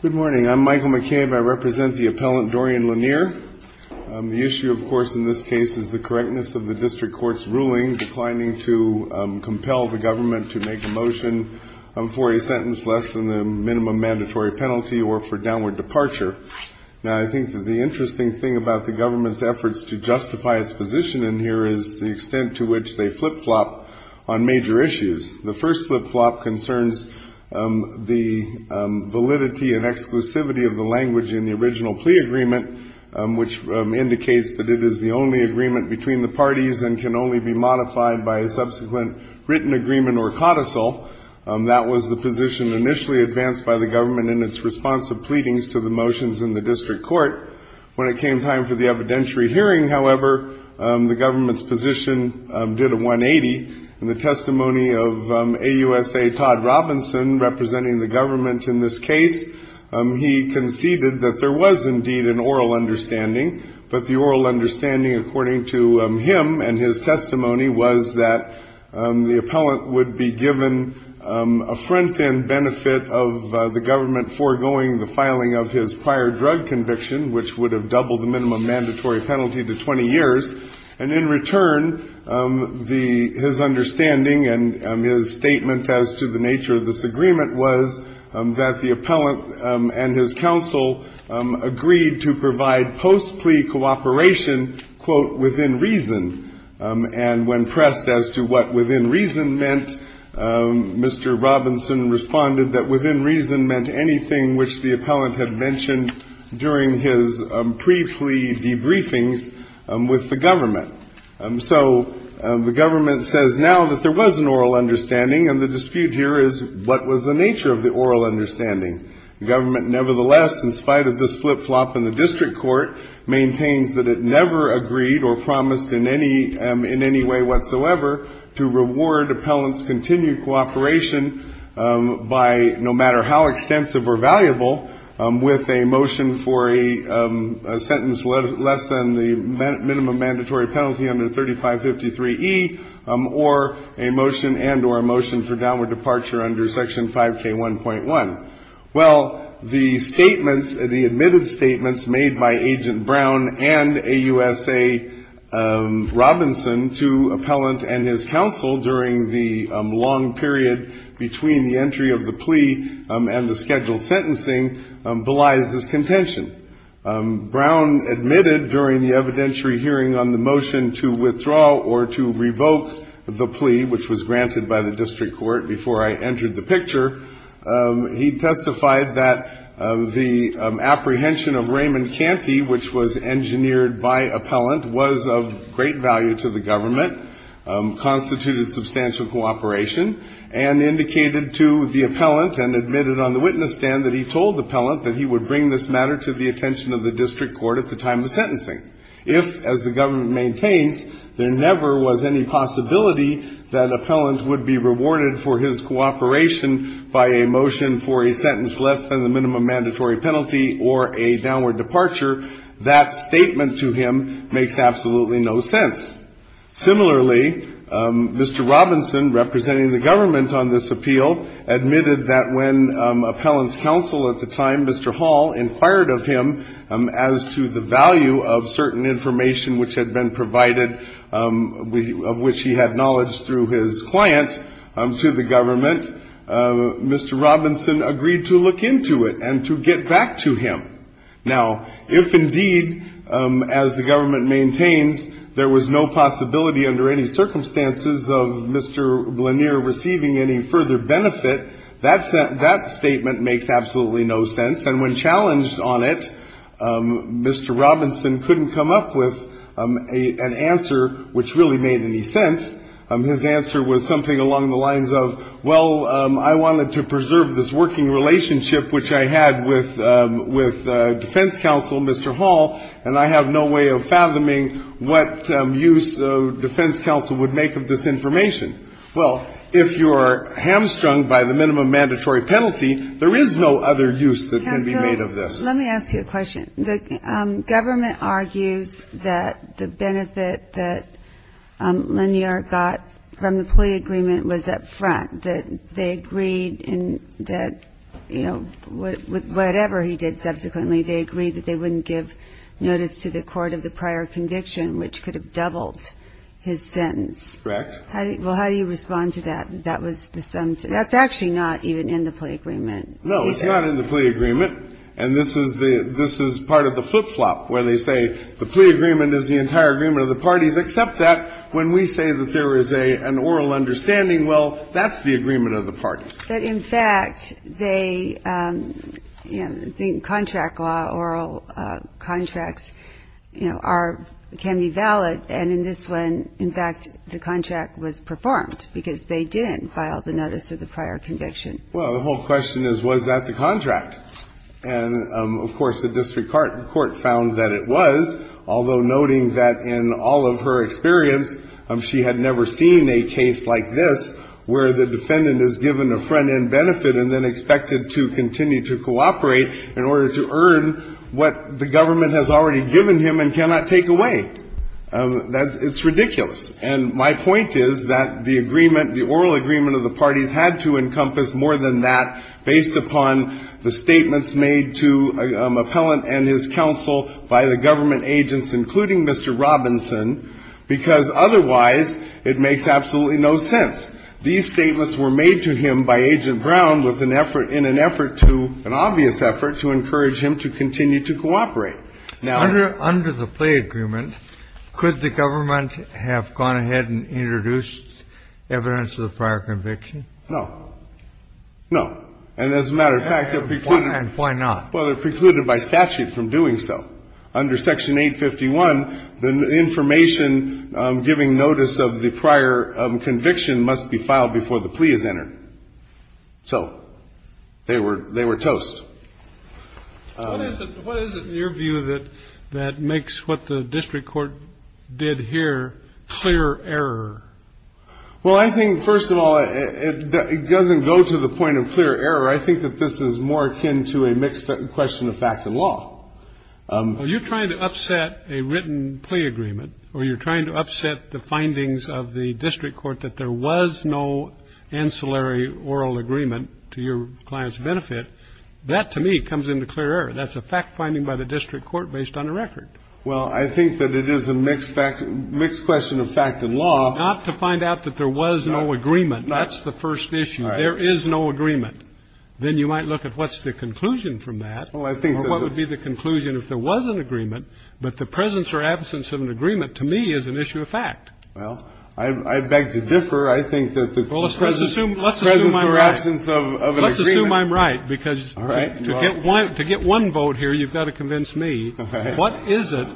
Good morning. I'm Michael McCabe. I represent the appellant Dorian Leniar. The issue, of course, in this case is the correctness of the district court's ruling declining to compel the government to make a motion for a sentence less than the minimum mandatory penalty or for downward departure. Now, I think the interesting thing about the government's efforts to justify its position in here is the extent to which they flip-flop on major issues. The first flip-flop concerns the validity and exclusivity of the language in the original plea agreement, which indicates that it is the only agreement between the parties and can only be modified by a subsequent written agreement or codicil. That was the position initially advanced by the government in its response to pleadings to the motions in the district court. When it came time for the evidentiary hearing, however, the government's position did a 180. In the testimony of AUSA Todd Robinson, representing the government in this case, he conceded that there was indeed an oral understanding. But the oral understanding, according to him and his testimony, was that the appellant would be given a front-end benefit of the government foregoing the filing of his prior drug conviction, which would have doubled the minimum mandatory penalty to 20 years. And in return, his understanding and his statement as to the nature of this agreement was that the appellant and his counsel agreed to provide post-plea cooperation, quote, within reason. And when pressed as to what within reason meant, Mr. Robinson responded that within reason meant anything which the appellant had mentioned during his pre-plea debriefings with the government. So the government says now that there was an oral understanding, and the dispute here is what was the nature of the oral understanding. The government, nevertheless, in spite of this flip-flop in the district court, maintains that it never agreed or promised in any way whatsoever to reward appellant's continued cooperation by, no matter how extensive or valuable, with a motion for a sentence less than the minimum mandatory penalty under 3553E, or a motion and or a motion for downward departure under Section 5K1.1. Well, the statements, the admitted statements made by Agent Brown and AUSA Robinson to appellant and his counsel during the long period between the entry of the plea and the scheduled sentencing belies this contention. Brown admitted during the evidentiary hearing on the motion to withdraw or to revoke the plea, which was granted by the district court before I entered the picture. He testified that the apprehension of Raymond Canty, which was engineered by appellant, was of great value to the government, constituted substantial cooperation, and indicated to the appellant and admitted on the witness stand that he told the appellant that he would bring this matter to the attention of the district court at the time of sentencing. If, as the government maintains, there never was any possibility that appellant would be rewarded for his cooperation by a motion for a sentence less than the minimum mandatory penalty or a downward departure, that statement to him makes absolutely no sense. Similarly, Mr. Robinson, representing the government on this appeal, admitted that when appellant's counsel at the time, Mr. Hall, inquired of him as to the value of certain information which had been provided, of which he had knowledge through his client, to the government, Mr. Robinson agreed to look into it and to get back to him. Now, if indeed, as the government maintains, there was no possibility under any circumstances of Mr. Lanier receiving any further benefit, that statement makes absolutely no sense. And when challenged on it, Mr. Robinson couldn't come up with an answer which really made any sense. His answer was something along the lines of, well, I wanted to preserve this working relationship which I had with defense counsel, Mr. Hall, and I have no way of fathoming what use defense counsel would make of this information. Well, if you are hamstrung by the minimum mandatory penalty, there is no other use that can be made of this. Let me ask you a question. The government argues that the benefit that Lanier got from the plea agreement was up front, that they agreed in that, you know, whatever he did subsequently, they agreed that they wouldn't give notice to the court of the prior conviction, which could have doubled his sentence. Correct. Well, how do you respond to that? That's actually not even in the plea agreement. No, it's not in the plea agreement. And this is part of the flip-flop where they say the plea agreement is the entire agreement of the parties, except that when we say that there is an oral understanding, well, that's the agreement of the parties. But, in fact, the contract law, oral contracts, you know, can be valid. And in this one, in fact, the contract was performed because they didn't file the notice of the prior conviction. Well, the whole question is, was that the contract? And, of course, the district court found that it was, although noting that in all of her experience, she had never seen a case like this where the defendant is given a front-end benefit and then expected to continue to cooperate in order to earn what the government has already given him and cannot take away. It's ridiculous. And my point is that the agreement, the oral agreement of the parties had to encompass more than that based upon the statements made to Appellant and his counsel by the government agents, including Mr. Robinson, because otherwise it makes absolutely no sense. These statements were made to him by Agent Brown with an effort, in an effort to, an obvious effort to encourage him to continue to cooperate. Under the plea agreement, could the government have gone ahead and introduced evidence of the prior conviction? No. No. And as a matter of fact, it precluded. And why not? Well, it precluded by statute from doing so. Under Section 851, the information giving notice of the prior conviction must be filed before the plea is entered. So they were toast. What is it in your view that makes what the district court did here clear error? Well, I think, first of all, it doesn't go to the point of clear error. I think that this is more akin to a mixed question of fact and law. Well, you're trying to upset a written plea agreement or you're trying to upset the findings of the district court that there was no ancillary oral agreement to your client's benefit That, to me, comes into clear error. That's a fact finding by the district court based on a record. Well, I think that it is a mixed question of fact and law. Not to find out that there was no agreement. That's the first issue. There is no agreement. Then you might look at what's the conclusion from that or what would be the conclusion if there was an agreement. But the presence or absence of an agreement, to me, is an issue of fact. I think that the presence or absence of an agreement. Well, I assume I'm right because to get one vote here, you've got to convince me. What is it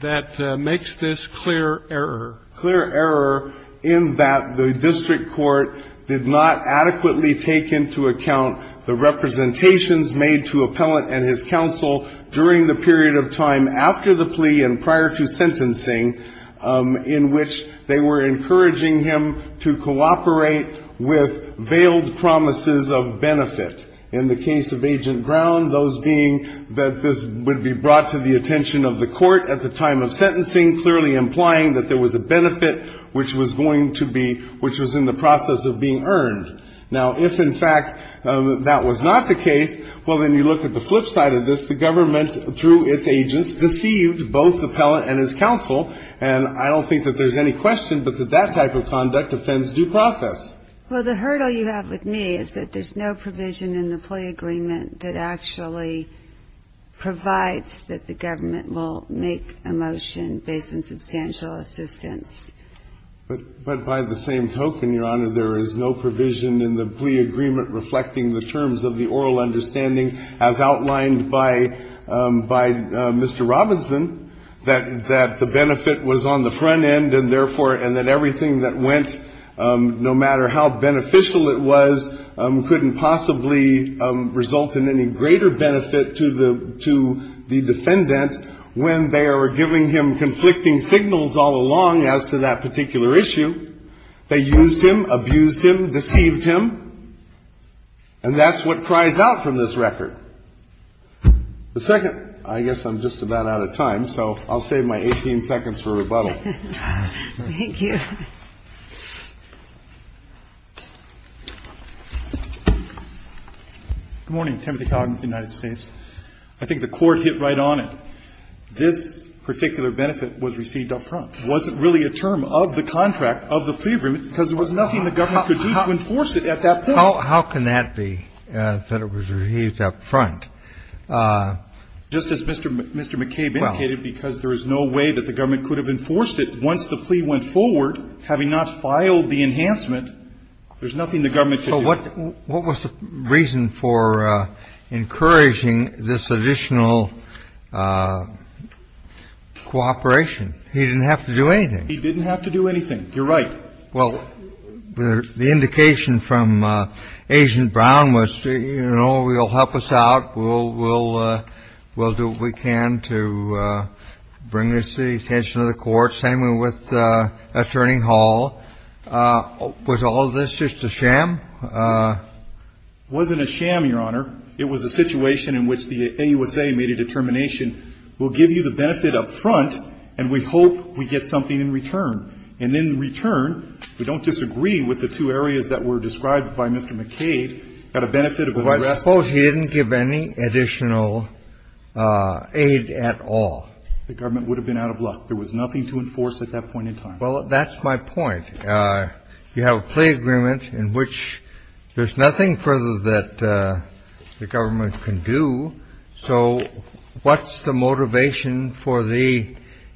that makes this clear error? Clear error in that the district court did not adequately take into account the representations made to Appellant and his counsel during the period of time after the plea and prior to sentencing in which they were encouraging him to cooperate with veiled promises of benefit. In the case of Agent Brown, those being that this would be brought to the attention of the court at the time of sentencing, clearly implying that there was a benefit which was going to be which was in the process of being earned. Now, if, in fact, that was not the case, well, then you look at the flip side of this. The government, through its agents, deceived both Appellant and his counsel. And I don't think that there's any question but that that type of conduct offends due process. Well, the hurdle you have with me is that there's no provision in the plea agreement that actually provides that the government will make a motion based on substantial assistance. But by the same token, Your Honor, there is no provision in the plea agreement reflecting the terms of the oral understanding as outlined by Mr. Robinson, that the benefit was on the front end and, therefore, and that everything that went, no matter how beneficial it was, couldn't possibly result in any greater benefit to the defendant when they are giving him conflicting signals all along as to that particular issue. They used him, abused him, deceived him. And that's what cries out from this record. The second, I guess I'm just about out of time, so I'll save my 18 seconds for rebuttal. Thank you. Good morning. Timothy Coggins, United States. I think the Court hit right on it. This particular benefit was received up front. It wasn't really a term of the contract, of the plea agreement, because there was nothing the government could do to enforce it at that point. How can that be, that it was received up front? Just as Mr. McCabe indicated, because there is no way that the government could have enforced it once the plea went forward, having not filed the enhancement, there's nothing the government could do. So what was the reason for encouraging this additional cooperation? He didn't have to do anything. He didn't have to do anything. You're right. Well, the indication from Agent Brown was, you know, he'll help us out. We'll do what we can to bring this to the attention of the Court. Same with Attorney Hall. Was all of this just a sham? It wasn't a sham, Your Honor. It was a situation in which the AUSA made a determination, we'll give you the benefit up front, and we hope we get something in return. And in return, we don't disagree with the two areas that were described by Mr. McCabe, got a benefit of the rest. Well, I suppose he didn't give any additional aid at all. The government would have been out of luck. There was nothing to enforce at that point in time. Well, that's my point. You have a plea agreement in which there's nothing further that the government can do. So what's the motivation for the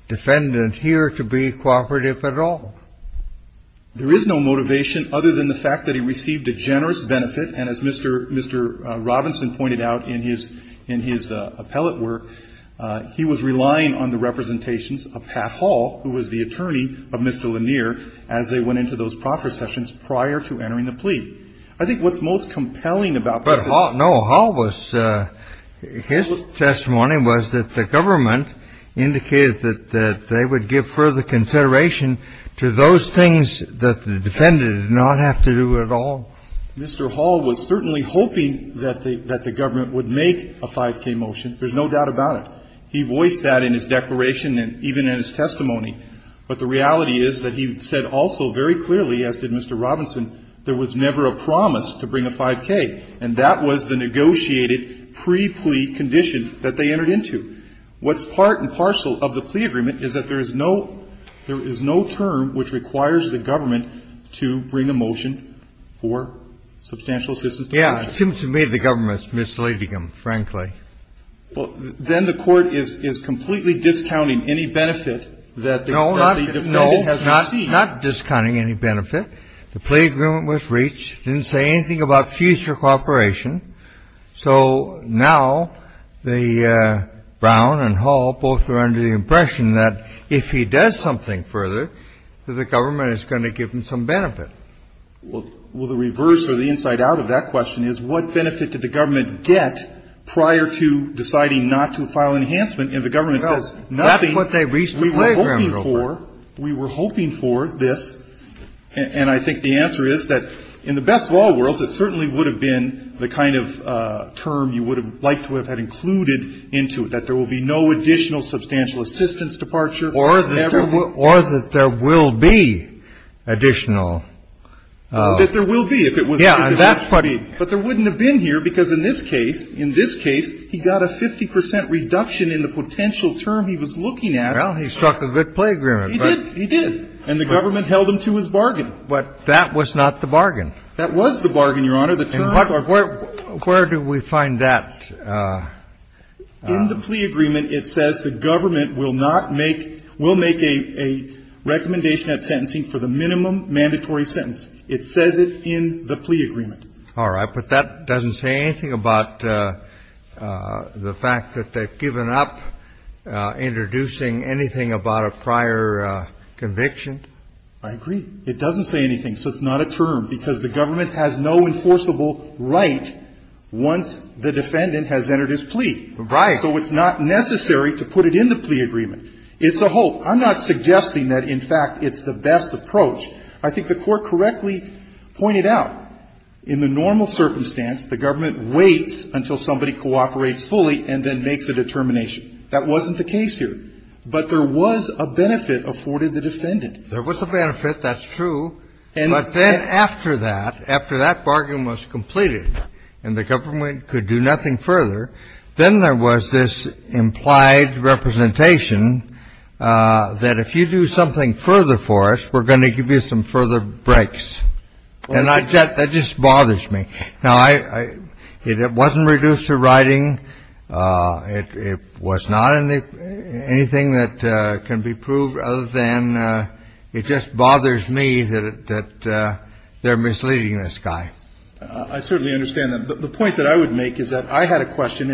defendant here to be cooperative at all? There is no motivation other than the fact that he received a generous benefit, and as Mr. Robinson pointed out in his appellate work, he was relying on the representations of Pat Hall, who was the attorney of Mr. Lanier, as they went into those proffer sessions prior to entering the plea. I think what's most compelling about this is the fact that Pat Hall was the attorney of Mr. Lanier. He was the attorney of Mr. Lanier. He was the attorney of Mr. Robinson. His testimony was that the government indicated that they would give further consideration to those things that the defendant did not have to do at all. Mr. Hall was certainly hoping that the government would make a 5K motion. There's no doubt about it. He voiced that in his declaration and even in his testimony. But the reality is that he said also very clearly, as did Mr. Robinson, there was never a promise to bring a 5K, and that was the negotiated pre-plea condition that they entered into. What's part and parcel of the plea agreement is that there is no term which requires the government to bring a motion for substantial assistance. Yeah. It seems to me the government is misleading him, frankly. Then the court is completely discounting any benefit that the defendant has received. No, not discounting any benefit. The plea agreement was reached. It didn't say anything about future cooperation. So now Brown and Hall both are under the impression that if he does something further, that the government is going to give him some benefit. Well, the reverse or the inside out of that question is what benefit did the government get prior to deciding not to file enhancement? And the government says nothing. That's what they reached the program over. We were hoping for. We were hoping for this. And I think the answer is that in the best of all worlds, it certainly would have been the kind of term you would have liked to have had included into it, that there will be no additional substantial assistance departure. Or that there will be additional. That there will be if it was to be. Yeah. But there wouldn't have been here, because in this case, in this case, he got a 50 percent reduction in the potential term he was looking at. Well, he struck a good plea agreement. He did. He did. And the government held him to his bargain. But that was not the bargain. That was the bargain, Your Honor. The term. Where do we find that? In the plea agreement, it says the government will not make, will make a recommendation at sentencing for the minimum mandatory sentence. It says it in the plea agreement. All right. But that doesn't say anything about the fact that they've given up introducing anything about a prior conviction? I agree. It doesn't say anything. So it's not a term. Because the government has no enforceable right once the defendant has entered his plea. Right. So it's not necessary to put it in the plea agreement. It's a hope. I'm not suggesting that, in fact, it's the best approach. I think the Court correctly pointed out, in the normal circumstance, the government waits until somebody cooperates fully and then makes a determination. That wasn't the case here. But there was a benefit afforded the defendant. There was a benefit. That's true. But then after that, after that bargain was completed and the government could do nothing further, then there was this implied representation that if you do something further for us, we're going to give you some further breaks. And that just bothers me. Now, it wasn't reduced to writing. It was not anything that can be proved other than it just bothers me that they're misleading this guy. I certainly understand that. But the point that I would make is that I had a question,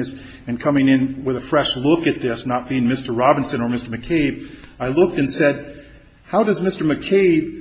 and coming in with a fresh look at this, not being Mr. Robinson or Mr. McCabe, I looked and said, how does Mr. McCabe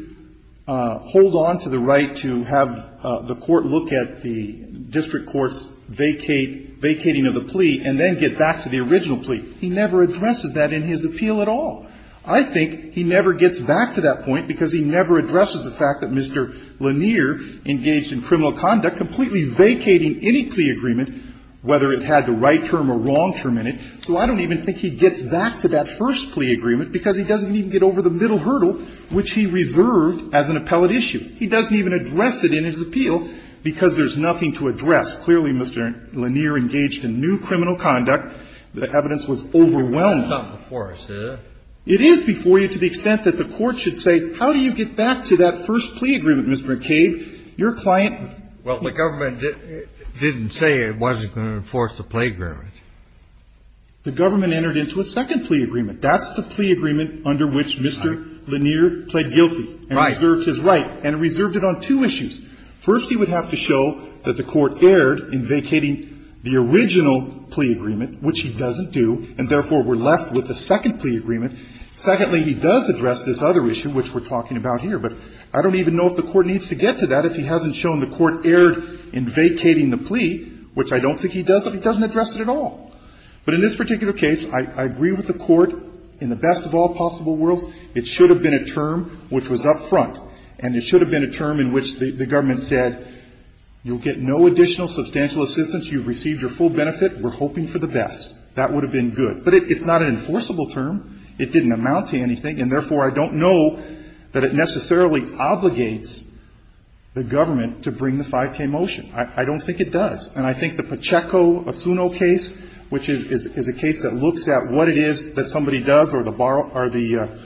hold on to the right to have the Court look at the district court's vacating of the plea and then get back to the original plea? He never addresses that in his appeal at all. I think he never gets back to that point because he never addresses the fact that Mr. Lanier engaged in criminal conduct, completely vacating any plea agreement, whether it had the right term or wrong term in it. So I don't even think he gets back to that first plea agreement because he doesn't even get over the middle hurdle, which he reserved as an appellate issue. He doesn't even address it in his appeal because there's nothing to address. Clearly, Mr. Lanier engaged in new criminal conduct. The evidence was overwhelming. It's not before us, is it? It is before you to the extent that the Court should say, how do you get back to that first plea agreement, Mr. McCabe? Your client --- Well, the government didn't say it wasn't going to enforce the plea agreement. The government entered into a second plea agreement. That's the plea agreement under which Mr. Lanier pled guilty and reserved his right and reserved it on two issues. First, he would have to show that the Court erred in vacating the original plea agreement, which he doesn't do, and therefore we're left with a second plea agreement. Secondly, he does address this other issue, which we're talking about here, but I don't even know if the Court needs to get to that if he hasn't shown the Court erred in vacating the plea, which I don't think he does if he doesn't address it at all. But in this particular case, I agree with the Court. In the best of all possible worlds, it should have been a term which was up front, and it should have been a term in which the government said, you'll get no additional substantial assistance. You've received your full benefit. We're hoping for the best. That would have been good. But it's not an enforceable term. It didn't amount to anything, and therefore I don't know that it necessarily obligates the government to bring the 5k motion. I don't think it does. And I think the Pacheco-Assuno case, which is a case that looks at what it is that somebody does, or the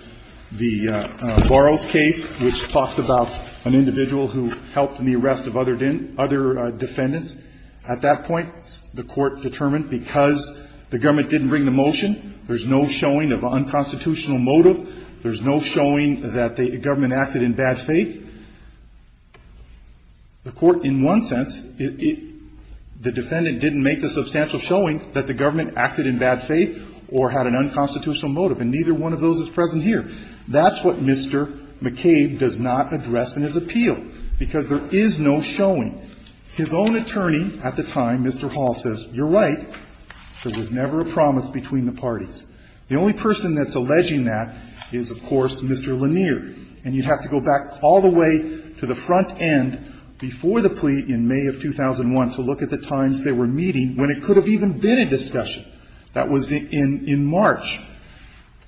Burroughs case, which talks about an individual who helped in the arrest of other defendants, at that point the Court determined because the government didn't bring the motion, there's no showing of unconstitutional motive, there's no showing that the government acted in bad faith, the Court in one sense, the defendant didn't make the substantial showing that the government acted in bad faith or had an unconstitutional motive, and neither one of those is present here. That's what Mr. McCabe does not address in his appeal, because there is no showing. His own attorney at the time, Mr. Hall, says, you're right, there was never a promise between the parties. The only person that's alleging that is, of course, Mr. Lanier, and you'd have to go back all the way to the front end before the plea in May of 2001 to look at the times they were meeting when it could have even been a discussion. That was in March.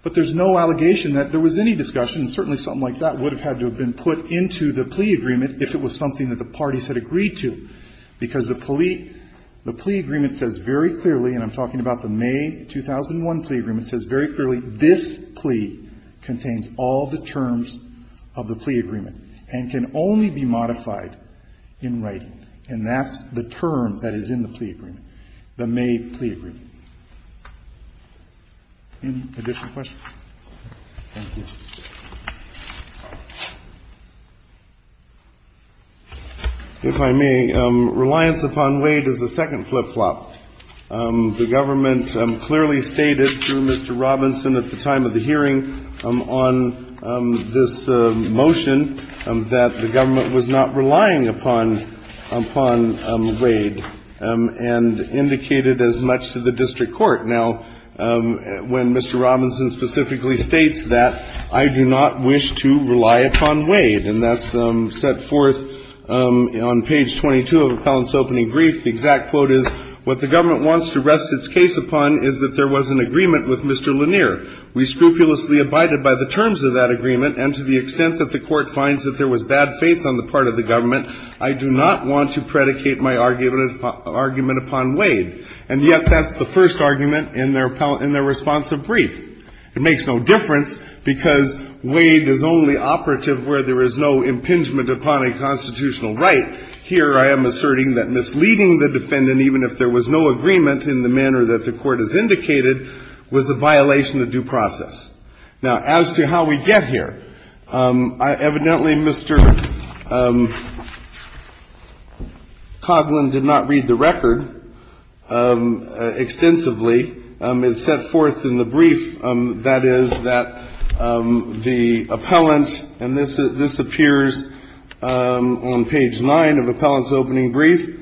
But there's no allegation that there was any discussion, and certainly something like that would have had to have been put into the plea agreement if it was something that the parties had agreed to, because the plea agreement says very clearly, and I'm talking about the May 2001 plea agreement, it says very clearly this plea contains all the terms of the plea agreement and can only be modified in writing, and that's the term that is in the plea agreement, the May plea agreement. Any additional questions? Thank you. If I may, reliance upon Wade is a second flip-flop. The government clearly stated through Mr. Robinson at the time of the hearing on this motion that the government was not relying upon, upon Wade, and indicated as much to the district court. Now, when Mr. Robinson specifically states that, the district court is not going to I do not wish to rely upon Wade, and that's set forth on page 22 of Appellant's opening brief. The exact quote is, what the government wants to rest its case upon is that there was an agreement with Mr. Lanier. We scrupulously abided by the terms of that agreement, and to the extent that the court finds that there was bad faith on the part of the government, I do not want to predicate my argument upon Wade. And yet that's the first argument in their responsive brief. It makes no difference, because Wade is only operative where there is no impingement upon a constitutional right. Here I am asserting that misleading the defendant, even if there was no agreement in the manner that the court has indicated, was a violation of due process. Now, as to how we get here, evidently Mr. Coghlan did not read the record extensively. It's set forth in the brief, that is, that the appellant, and this appears on page nine of Appellant's opening brief.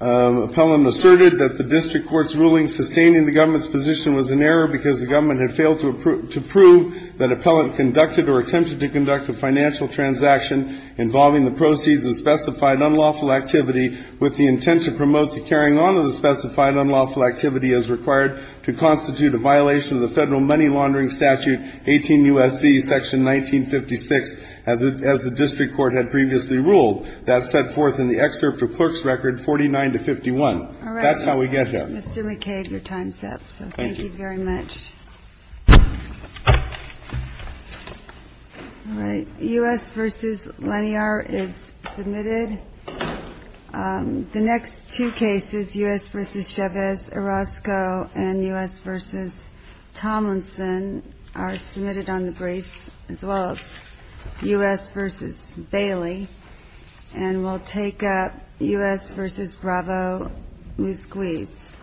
Appellant asserted that the district court's ruling sustaining the government's position was an error because the government had failed to prove that Appellant conducted or attempted to conduct a financial transaction involving the proceeds of specified unlawful activity with the intent to promote the carrying on of the specified unlawful activity as required to constitute a violation of the federal money laundering statute, 18 U.S.C., section 1956, as the district court had previously ruled. That's set forth in the excerpt of clerk's record, 49 to 51. That's how we get here. All right. Mr. McCabe, your time's up. Thank you. So thank you very much. All right. U.S. v. Lanier is submitted. The next two cases, U.S. v. Chavez-Orozco and U.S. v. Tomlinson are submitted on the briefs, as well as U.S. v. Bailey, and we'll take up U.S. v. Bravo-Musquiz.